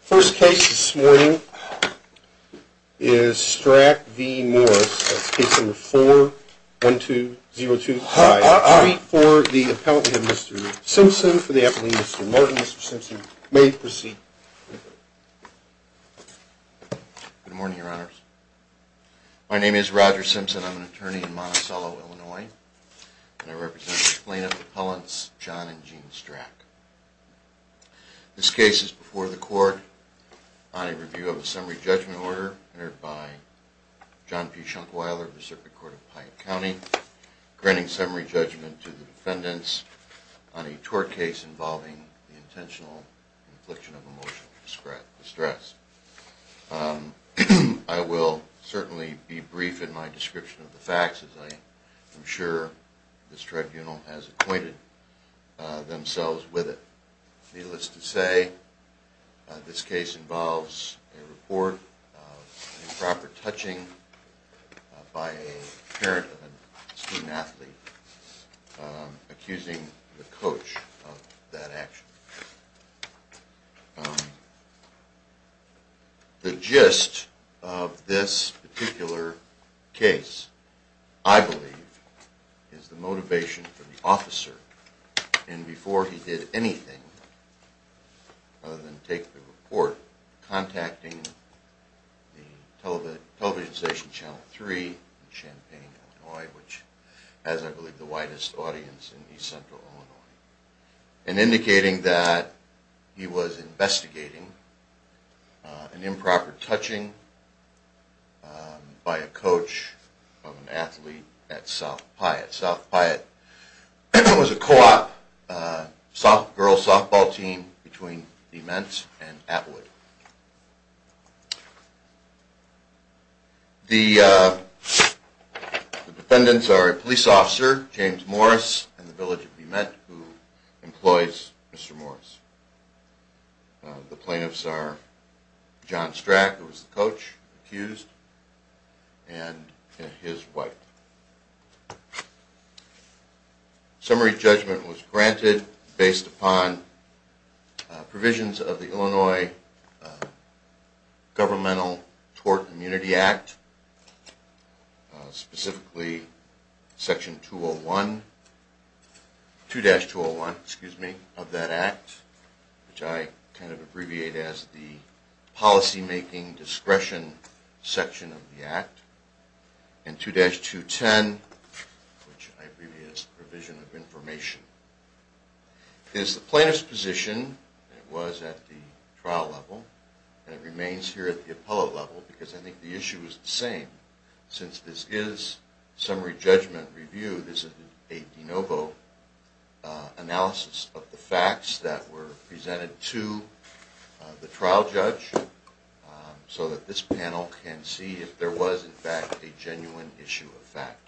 First case this morning is Strack v. Morris, case number 412025. For the appellant, we have Mr. Simpson. For the appellant, Mr. Martin. Mr. Simpson, you may proceed. Good morning, Your Honors. My name is Roger Simpson. I'm an attorney in Monticello, Illinois, and I represent plaintiff appellants John and Jean Strack. This case is before the court on a review of a summary judgment order entered by John P. Schunkweiler of the Circuit Court of Pine County, granting summary judgment to the defendants on a tort case involving the intentional infliction of emotional distress. I will certainly be brief in my description of the facts, as I am sure this tribunal has acquainted themselves with it. Needless to say, this case involves a report of improper touching by a parent of a student athlete, accusing the coach of that action. The gist of this particular case, I believe, is the motivation for the officer, and before he did anything other than take the report, contacting the television station Channel 3 in Champaign, Illinois, which has, I believe, the widest audience in East Central Illinois, and indicating that he was investigating an improper touching by a coach of an athlete at South Piatt. South Piatt was a co-op girl's softball team between DeMent and Atwood. The defendants are a police officer, James Morris, in the village of DeMent, who employs Mr. Morris. The plaintiffs are John Strack, who was the coach, accused, and his wife. Summary judgment was granted based upon provisions of the Illinois Governmental Tort and Immunity Act, specifically 2-201 of that act, which I kind of abbreviate as the policymaking discretion section of the act. And 2-210, which I abbreviate as the provision of information, is the plaintiff's position. It was at the trial level, and it remains here at the appellate level because I think the issue is the same. Since this is summary judgment review, this is a de novo analysis of the facts that were presented to the trial judge so that this panel can see if there was, in fact, a genuine issue of fact.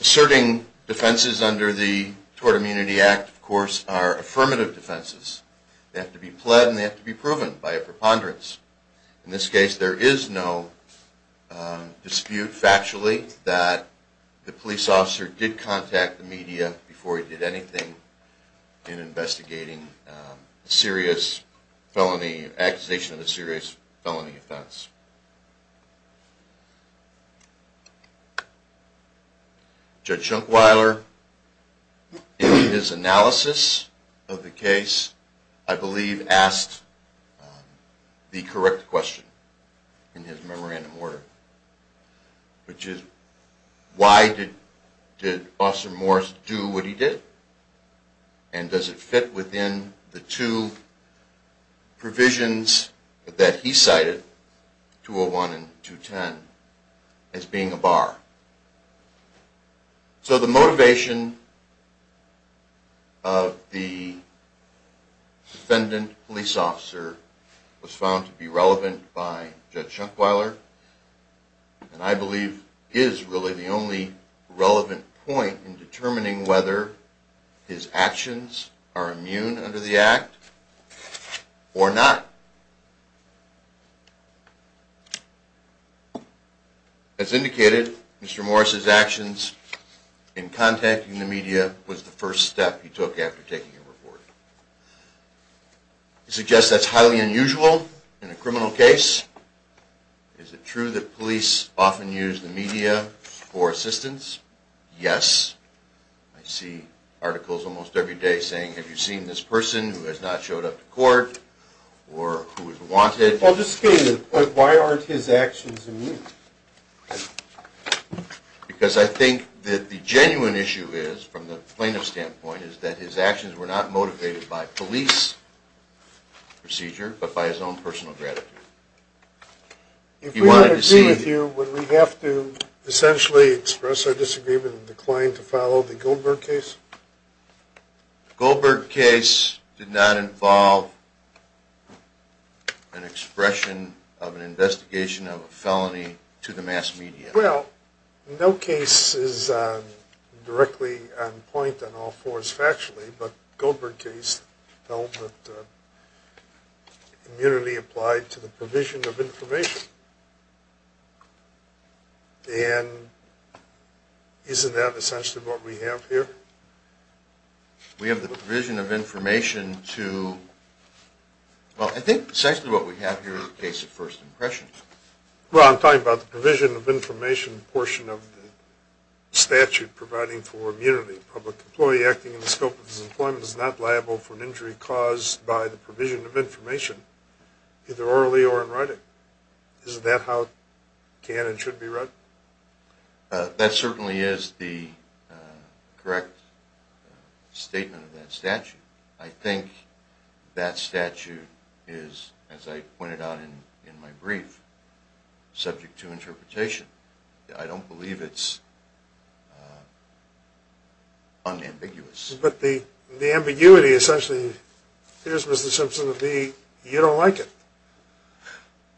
Asserting defenses under the Tort and Immunity Act, of course, are affirmative defenses. They have to be pled, and they have to be proven by a preponderance. In this case, there is no dispute factually that the police officer did contact the media before he did anything in investigating a serious felony, accusation of a serious felony offense. Judge Schunkweiler, in his analysis of the case, I believe asked the correct question in his memorandum order, which is, why did Officer Morris do what he did, and does it fit within the two provisions that he cited, 201 and 210, as being a bar? So the motivation of the defendant police officer was found to be relevant by Judge Schunkweiler, and I believe is really the only relevant point in determining whether his actions are immune under the act or not. As indicated, Mr. Morris' actions in contacting the media was the first step he took after taking a report. I suggest that's highly unusual in a criminal case. Is it true that police often use the media for assistance? Yes. I see articles almost every day saying, have you seen this person who has not showed up to court, or who has wanted... I'll just state it, but why aren't his actions immune? Because I think that the genuine issue is, from the plaintiff's standpoint, is that his actions were not motivated by police procedure, but by his own personal gratitude. If we want to agree with you, would we have to essentially express our disagreement and decline to follow the Goldberg case? The Goldberg case did not involve an expression of an investigation of a felony to the mass media. Well, no case is directly on point on all fours factually, but the Goldberg case felt that immunity applied to the provision of information. And isn't that essentially what we have here? We have the provision of information to... Well, I think essentially what we have here is a case of first impressions. Well, I'm talking about the provision of information portion of the statute providing for immunity. A public employee acting in the scope of his employment is not liable for an injury caused by the provision of information, either orally or in writing. Isn't that how it can and should be run? That certainly is the correct statement of that statute. I think that statute is, as I pointed out in my brief, subject to interpretation. I don't believe it's unambiguous. But the ambiguity essentially appears, Mr. Simpson, to be you don't like it.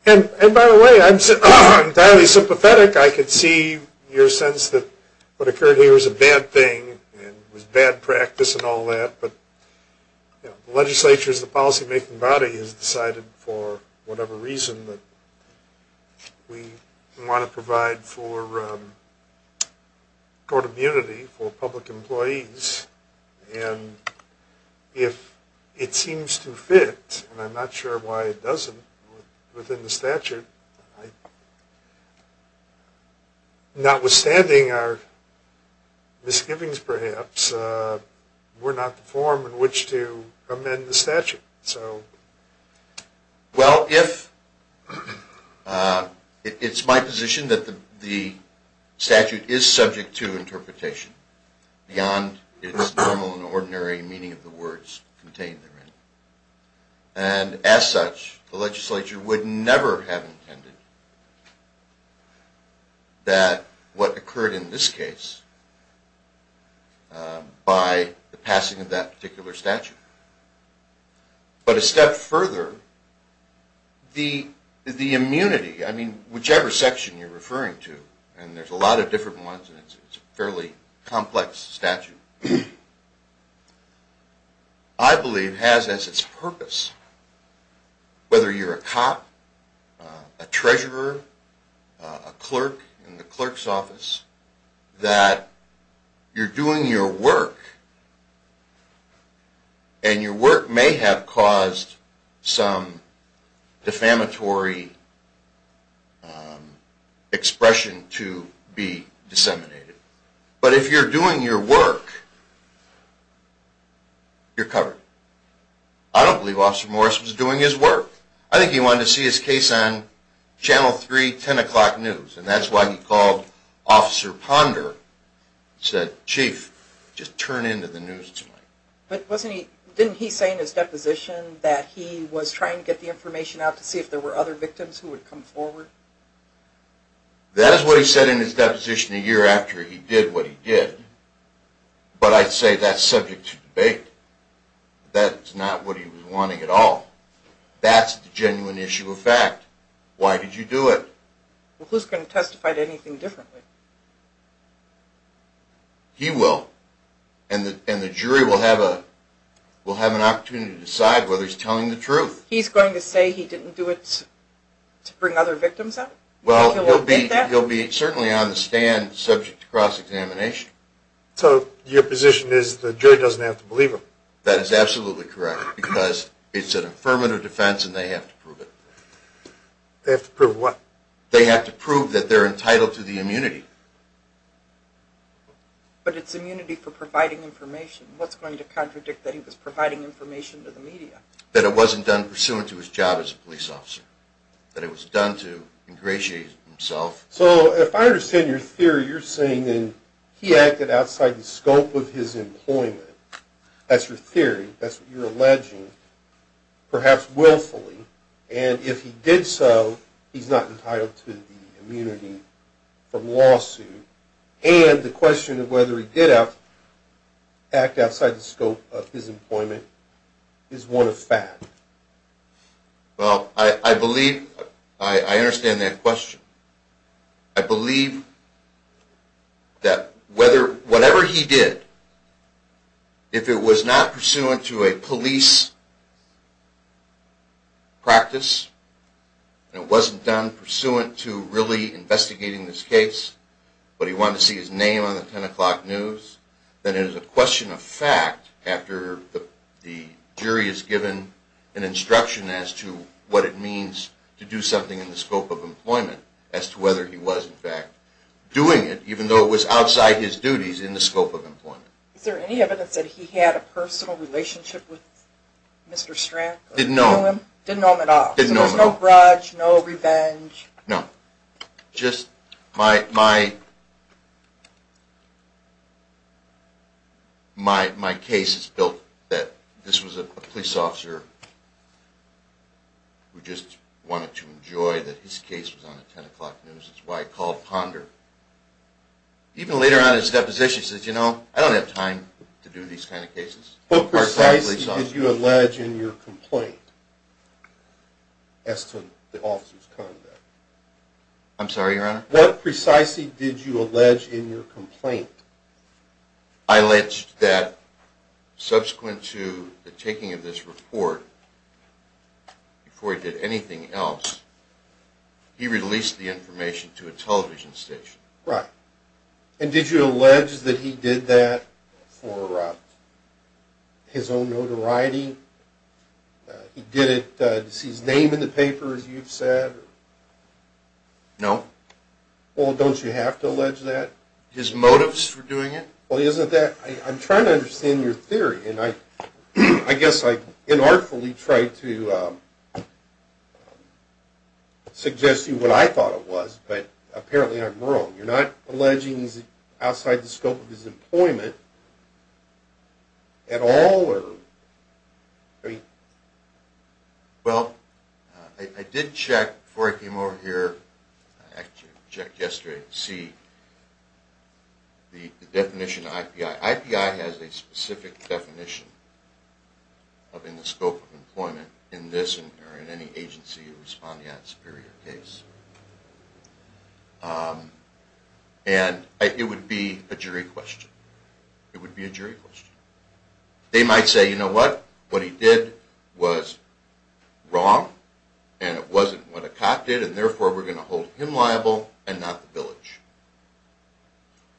And by the way, I'm entirely sympathetic. I could see your sense that what occurred here was a bad thing and was bad practice and all that, but the legislature is the policy-making body. Everybody has decided for whatever reason that we want to provide for court immunity for public employees. And if it seems to fit, and I'm not sure why it doesn't within the statute, notwithstanding our misgivings perhaps, we're not the forum in which to amend the statute. Well, it's my position that the statute is subject to interpretation beyond its normal and ordinary meaning of the words contained therein. And as such, the legislature would never have intended that what occurred in this case by the passing of that particular statute. But a step further, the immunity, I mean, whichever section you're referring to, and there's a lot of different ones and it's a fairly complex statute, I believe has as its purpose, whether you're a cop, a treasurer, a clerk in the clerk's office, that you're doing your work and your work may have caused some defamatory expression to be disseminated. But if you're doing your work, you're covered. I don't believe Officer Morris was doing his work. I think he wanted to see his case on Channel 3, 10 o'clock news, and that's why he called Officer Ponder and said, Chief, just turn into the news tonight. But didn't he say in his deposition that he was trying to get the information out to see if there were other victims who would come forward? That is what he said in his deposition a year after he did what he did. That's not what he was wanting at all. That's the genuine issue of fact. Why did you do it? Well, who's going to testify to anything differently? He will. And the jury will have an opportunity to decide whether he's telling the truth. He's going to say he didn't do it to bring other victims up? Well, he'll be certainly on the stand subject to cross-examination. So your position is the jury doesn't have to believe him? That is absolutely correct, because it's an affirmative defense, and they have to prove it. They have to prove what? They have to prove that they're entitled to the immunity. But it's immunity for providing information. What's going to contradict that he was providing information to the media? That it wasn't done pursuant to his job as a police officer, that it was done to ingratiate himself. So if I understand your theory, you're saying he acted outside the scope of his employment. That's your theory. That's what you're alleging, perhaps willfully. And if he did so, he's not entitled to the immunity from lawsuit. And the question of whether he did act outside the scope of his employment is one of fact. Well, I believe, I understand that question. I believe that whatever he did, if it was not pursuant to a police practice, and it wasn't done pursuant to really investigating this case, but he wanted to see his name on the 10 o'clock news, then it is a question of fact after the jury is given an instruction as to what it means to do something in the scope of employment, as to whether he was in fact doing it, even though it was outside his duties in the scope of employment. Is there any evidence that he had a personal relationship with Mr. Stratton? Didn't know him. Didn't know him at all. Didn't know him at all. So there's no grudge, no revenge? No. Just my case is built that this was a police officer who just wanted to enjoy that his case was on the 10 o'clock news. That's why I called Ponder. Even later on in his deposition, he says, you know, I don't have time to do these kind of cases. What precisely did you allege in your complaint as to the officer's conduct? I'm sorry, Your Honor? What precisely did you allege in your complaint? I alleged that subsequent to the taking of this report, before he did anything else, he released the information to a television station. Right. And did you allege that he did that for his own notoriety? He did it, is his name in the paper, as you've said? No. Well, don't you have to allege that? His motives for doing it? Well, isn't that, I'm trying to understand your theory, and I guess I inartfully tried to suggest to you what I thought it was, but apparently I'm wrong. You're not alleging he's outside the scope of his employment at all? Well, I did check before I came over here, I checked yesterday to see the definition of IPI. IPI has a specific definition in the scope of employment in this or in any agency responding on a superior case. And it would be a jury question. It would be a jury question. They might say, you know what, what he did was wrong, and it wasn't what a cop did, and therefore we're going to hold him liable and not the village.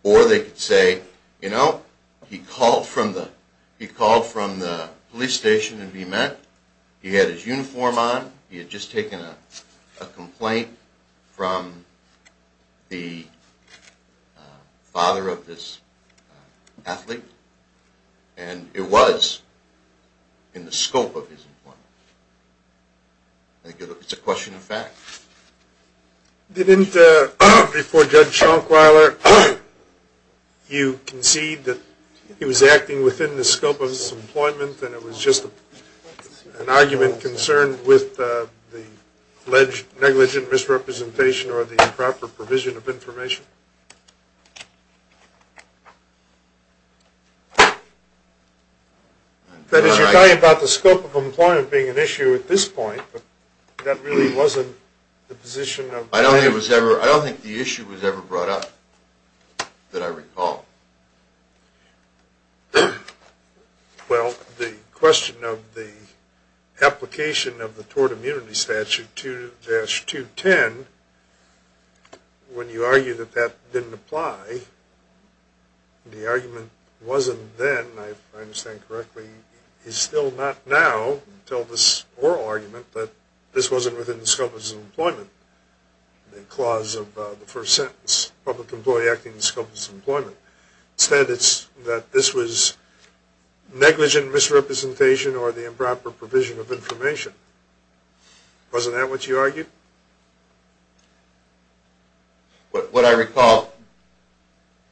Or they could say, you know, he called from the police station and he met, he had his uniform on, he had just taken a complaint from the father of this athlete, and it was in the scope of his employment. It's a question of fact. Didn't, before Judge Schunkweiler, you concede that he was acting within the scope of his employment and it was just an argument concerned with the negligent misrepresentation or the improper provision of information? That is, you're talking about the scope of employment being an issue at this point, but that really wasn't the position of the… I don't think it was ever, I don't think the issue was ever brought up that I recall. Well, the question of the application of the Tort Immunity Statute 2-210, when you argue that that didn't apply, the argument wasn't then, if I understand correctly, is still not now until this oral argument that this wasn't within the scope of his employment. The clause of the first sentence, public employee acting in the scope of his employment. Instead, it's that this was negligent misrepresentation or the improper provision of information. Wasn't that what you argued? What I recall,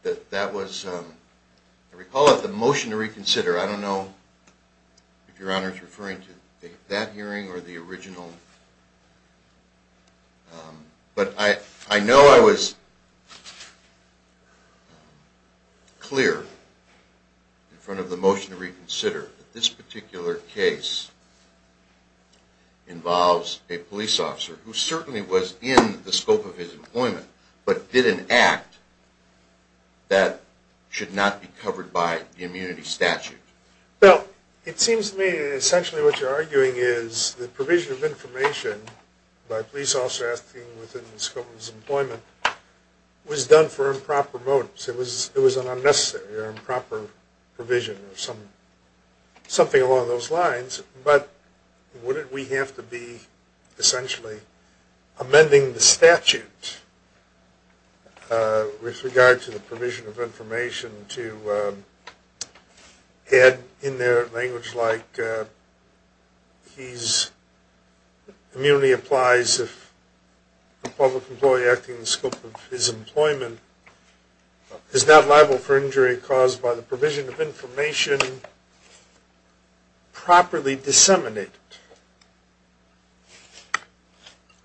that that was, I recall that the motion to reconsider, I don't know if Your Honor is referring to that hearing or the original, but I know I was clear in front of the motion to reconsider that this particular case involves a police officer. Who certainly was in the scope of his employment, but did an act that should not be covered by the immunity statute. Well, it seems to me essentially what you're arguing is the provision of information by police officers within the scope of his employment was done for improper motives. It was an unnecessary or improper provision or something along those lines, but wouldn't we have to be essentially amending the statute with regard to the provision of information to add in there language like, he's, immunity applies if a public employee acting in the scope of his employment is not liable for injury caused by the provision of information properly disseminated.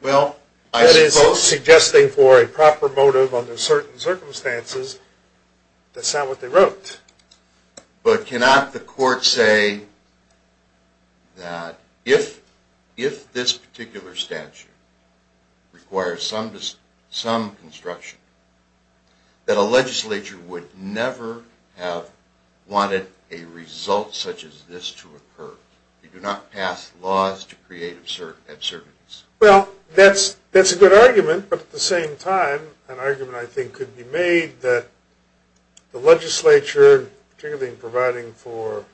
Well, I suppose. That is, suggesting for a proper motive under certain circumstances. That's not what they wrote. But cannot the court say that if this particular statute requires some construction, that a legislature would never have wanted a result such as this to occur? They do not pass laws to create absurdities. Well, that's a good argument, but at the same time, an argument I think could be made that the legislature, particularly in providing for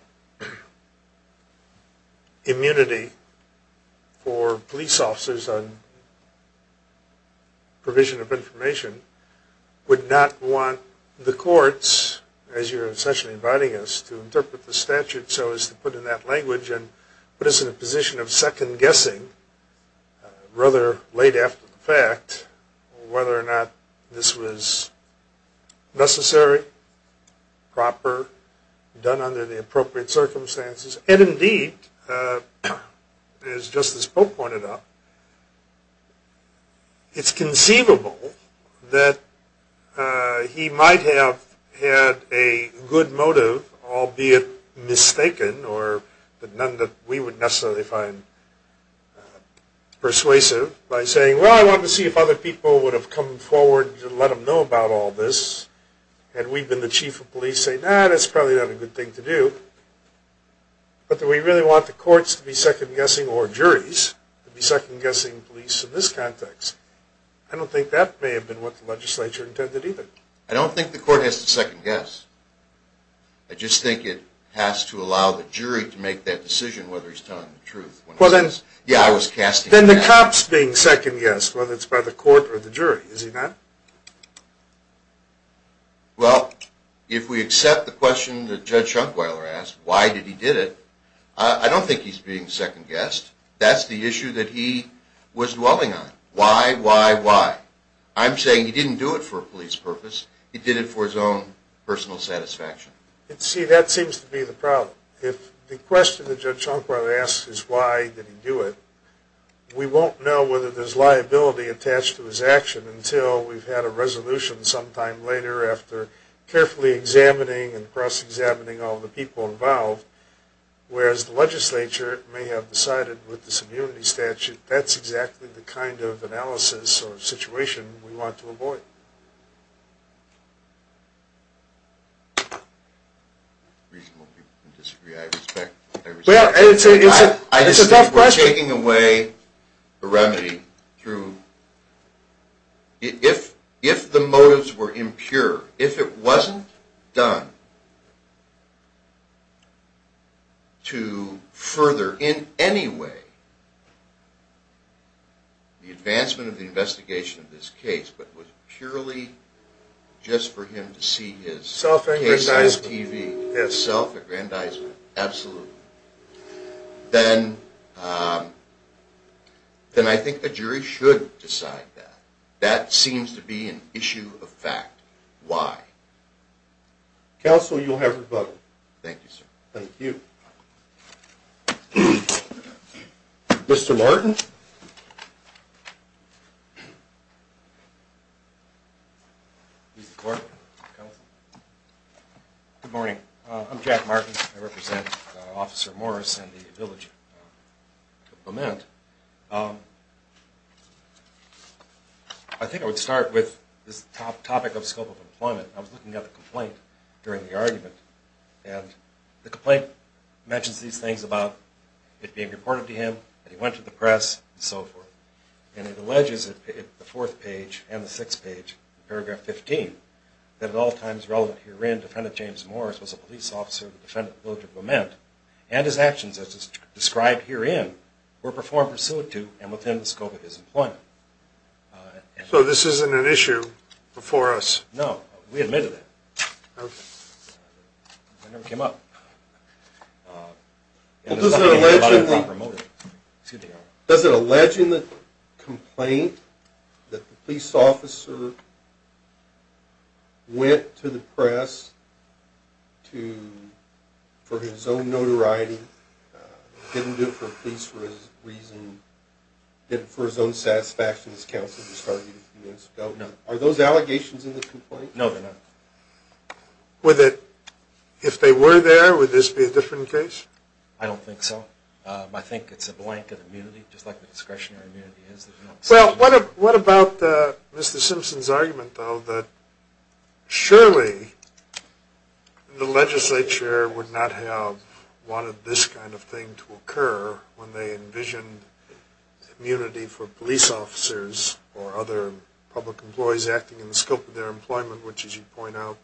immunity for police officers on provision of information, would not want the courts, as you're essentially inviting us, to interpret the statute so as to put in that language and put us in a position of second-guessing rather late after the fact, whether or not this was necessary, proper, done under the appropriate circumstances. And indeed, as Justice Pope pointed out, it's conceivable that he might have had a good motive, albeit mistaken, but none that we would necessarily find persuasive, by saying, well, I wanted to see if other people would have come forward to let him know about all this, had we been the chief of police, to say, no, that's probably not a good thing to do. But do we really want the courts to be second-guessing, or juries to be second-guessing police in this context? I don't think that may have been what the legislature intended either. I don't think the court has to second-guess. I just think it has to allow the jury to make that decision, whether he's telling the truth. Well, then the cops being second-guessed, whether it's by the court or the jury, is he not? Well, if we accept the question that Judge Schunkweiler asked, why did he did it, I don't think he's being second-guessed. That's the issue that he was dwelling on. Why, why, why? I'm saying he didn't do it for a police purpose. He did it for his own personal satisfaction. See, that seems to be the problem. If the question that Judge Schunkweiler asks is why did he do it, we won't know whether there's liability attached to his action until we've had a resolution sometime later, after carefully examining and cross-examining all the people involved. Whereas the legislature may have decided with this immunity statute, that's exactly the kind of analysis or situation we want to avoid. Reasonable people can disagree, I respect that. Well, it's a tough question. I just think we're taking away the remedy through, if the motives were impure, if it wasn't done to further in any way the advancement of the investigation of this case, but was purely just for him to see his case on his TV. Self-aggrandizement. Self-aggrandizement, absolutely. Then I think the jury should decide that. That seems to be an issue of fact. Why? Counsel, you'll have your vote. Thank you, sir. Thank you. Mr. Martin? Good morning. I'm Jack Martin. I represent Officer Morris and the village of Lament. I think I would start with this topic of scope of employment. I was looking at the complaint during the argument, and the complaint mentions these things about it being reported to him, that he went to the press, and so forth. And it alleges in the fourth page and the sixth page, paragraph 15, that at all times relevant herein, defendant James Morris was a police officer of the defendant of the village of Lament, and his actions as described herein were performed pursuant to and within the scope of his employment. So this isn't an issue before us? No. We admitted it. It never came up. Does it allege in the complaint that the police officer went to the press for his own notoriety, didn't do it for his own satisfaction, as counsel just argued a few minutes ago? No. Are those allegations in the complaint? No, they're not. If they were there, would this be a different case? I don't think so. I think it's a blanket immunity, just like the discretionary immunity is. Well, what about Mr. Simpson's argument, though, that surely the legislature would not have wanted this kind of thing to occur when they envisioned immunity for police officers or other public employees acting in the scope of their employment, which, as you point out,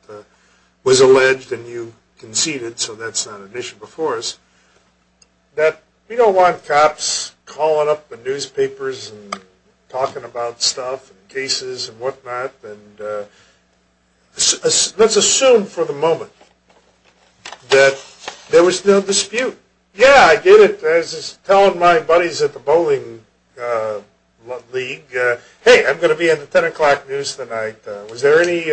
was alleged and you conceded, so that's not an issue before us, that we don't want cops calling up the newspapers and talking about stuff and cases and whatnot. Let's assume for the moment that there was no dispute. Yeah, I did it. I was just telling my buddies at the bowling league, hey, I'm going to be in the 10 o'clock news tonight. Was there any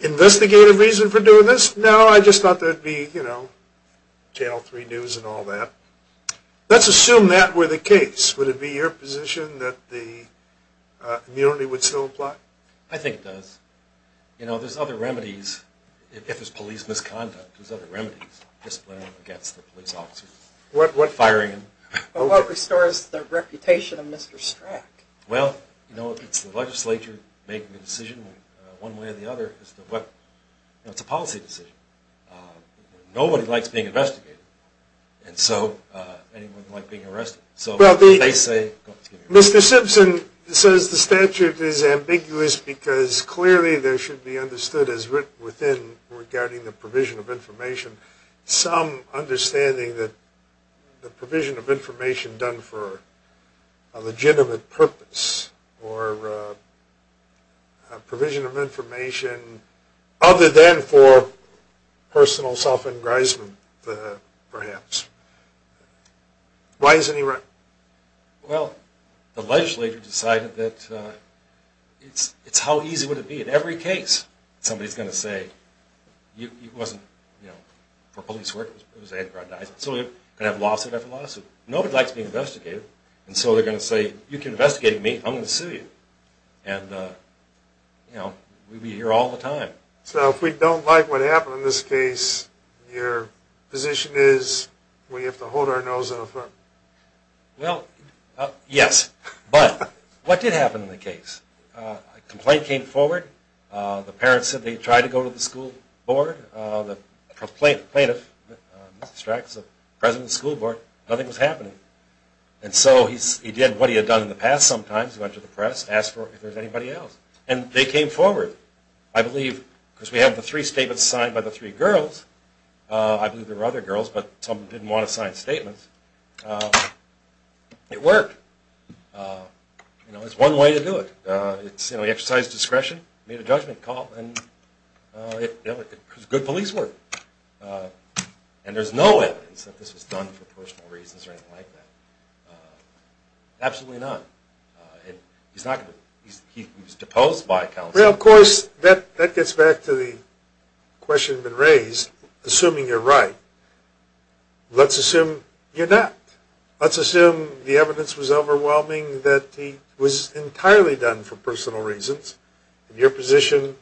investigative reason for doing this? No, I just thought there would be Channel 3 news and all that. Let's assume that were the case. Would it be your position that the immunity would still apply? I think it does. There's other remedies, if it's police misconduct, there's other remedies, disciplining against the police officers, firing them. But what restores the reputation of Mr. Strack? Well, it's the legislature making the decision one way or the other. It's a policy decision. Nobody likes being investigated, and so anyone who likes being arrested. Mr. Simpson says the statute is ambiguous because clearly there should be understood as written within regarding the provision of information, some understanding that the provision of information done for a legitimate purpose or a provision of information other than for personal self-engrisement, perhaps. Why isn't he right? Well, the legislature decided that it's how easy would it be. In every case, somebody's going to say, it wasn't for police work, it was an aggrandizement. So you're going to have a lawsuit after lawsuit. Nobody likes being investigated, and so they're going to say, you can investigate me, I'm going to sue you. And, you know, we'll be here all the time. So if we don't like what happened in this case, your position is we have to hold our nose and affirm? Well, yes. But what did happen in the case? A complaint came forward. The parents said they tried to go to the school board. The plaintiff, Mr. Strack, is the president of the school board. Nothing was happening. And so he did what he had done in the past sometimes. He went to the press, asked if there was anybody else. And they came forward, I believe, because we have the three statements signed by the three girls. I believe there were other girls, but some of them didn't want to sign statements. It worked. You know, there's one way to do it. It's, you know, he exercised discretion, made a judgment call, and it was good police work. And there's no evidence that this was done for personal reasons or anything like that. Absolutely none. He was deposed by counsel. Well, of course, that gets back to the question that's been raised. Assuming you're right, let's assume you're not. Let's assume the evidence was overwhelming, that it was entirely done for personal reasons. Your position,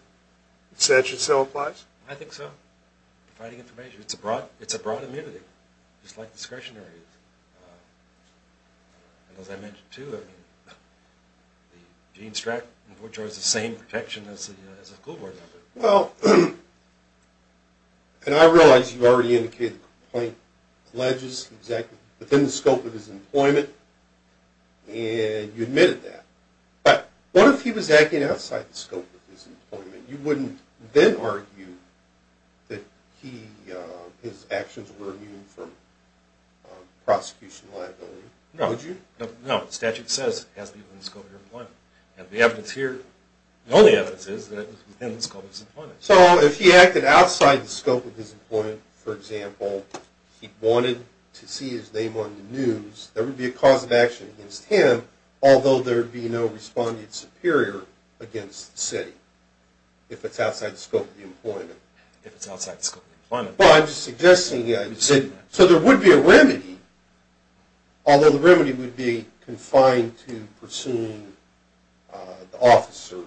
the statute still applies? I think so. Providing information. It's a broad immunity, just like discretionary. As I mentioned, too, Gene Stratton enjoys the same protection as a school board member. Well, and I realize you already indicated the complaint alleges he was acting within the scope of his employment, and you admitted that. But what if he was acting outside the scope of his employment? You wouldn't then argue that his actions were immune from prosecution liability, would you? No. The statute says it has to be within the scope of your employment. The evidence here, the only evidence is that it was within the scope of his employment. So if he acted outside the scope of his employment, for example, he wanted to see his name on the news, there would be a cause of action against him, although there would be no respondeat superior against the city, if it's outside the scope of the employment. If it's outside the scope of the employment. So there would be a remedy, although the remedy would be confined to pursuing the officer,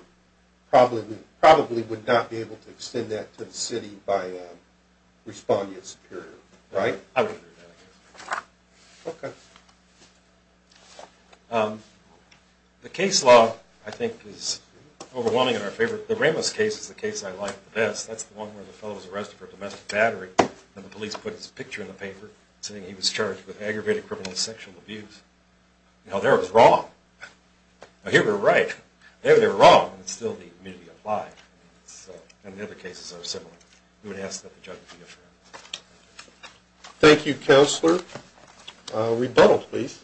probably would not be able to extend that to the city by a respondeat superior, right? I would agree with that, I guess. Okay. The case law, I think, is overwhelming in our favor. The Ramos case is the case I like the best. That's the one where the fellow was arrested for domestic battery, and the police put his picture in the paper, saying he was charged with aggravated criminal sexual abuse. Now, there it was wrong. Here we're right. There they were wrong, and it still needed to be applied. And the other cases are similar. We would ask that the judge be affirmative. Thank you, Counselor. Rebuttal, please.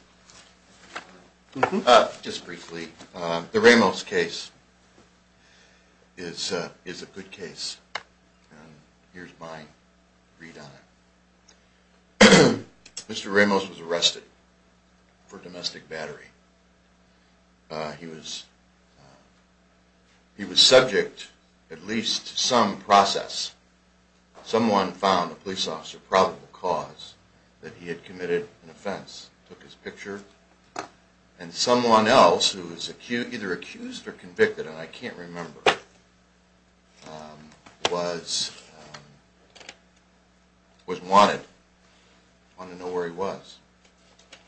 Just briefly, the Ramos case is a good case. Here's my read on it. Mr. Ramos was arrested for domestic battery. He was subject at least to some process. Someone found a police officer probable cause that he had committed an offense, took his picture, and someone else who was either accused or convicted, and I can't remember, was wanted, wanted to know where he was.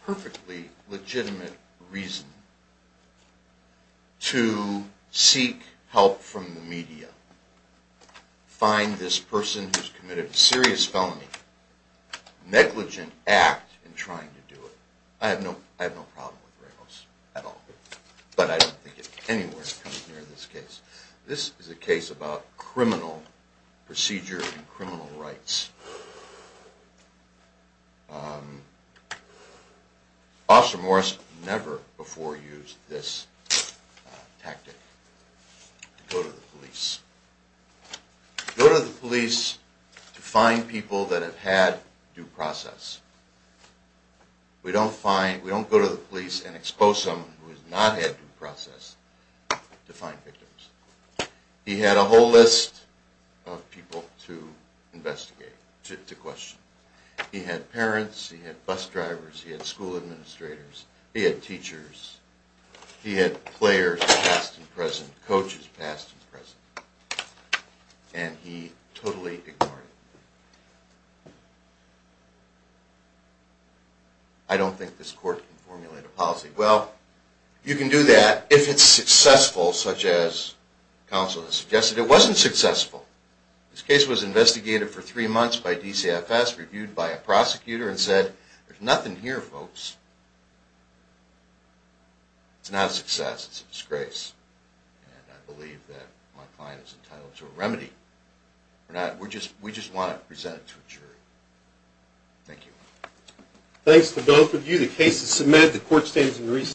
Perfectly legitimate reason to seek help from the media, find this person who's committed a serious felony, negligent act in trying to do it. I have no problem with Ramos at all, but I don't think it's anywhere near this case. This is a case about criminal procedure and criminal rights. Officer Morris never before used this tactic to go to the police. Go to the police to find people that have had due process. We don't find, we don't go to the police and expose someone who has not had due process to find victims. He had a whole list of people to investigate, to question. He had parents, he had bus drivers, he had school administrators, he had teachers, he had players past and present, coaches past and present, and he totally ignored it. I don't think this court can formulate a policy. Well, you can do that if it's successful, such as counsel has suggested. It wasn't successful. This case was investigated for three months by DCFS, reviewed by a prosecutor, and said, there's nothing here, folks. It's not a success. It's a disgrace. And I believe that my client is entitled to a remedy for that. We just want to present it to a jury. Thank you. Thanks to both of you. The case is submitted. The court stands in recess.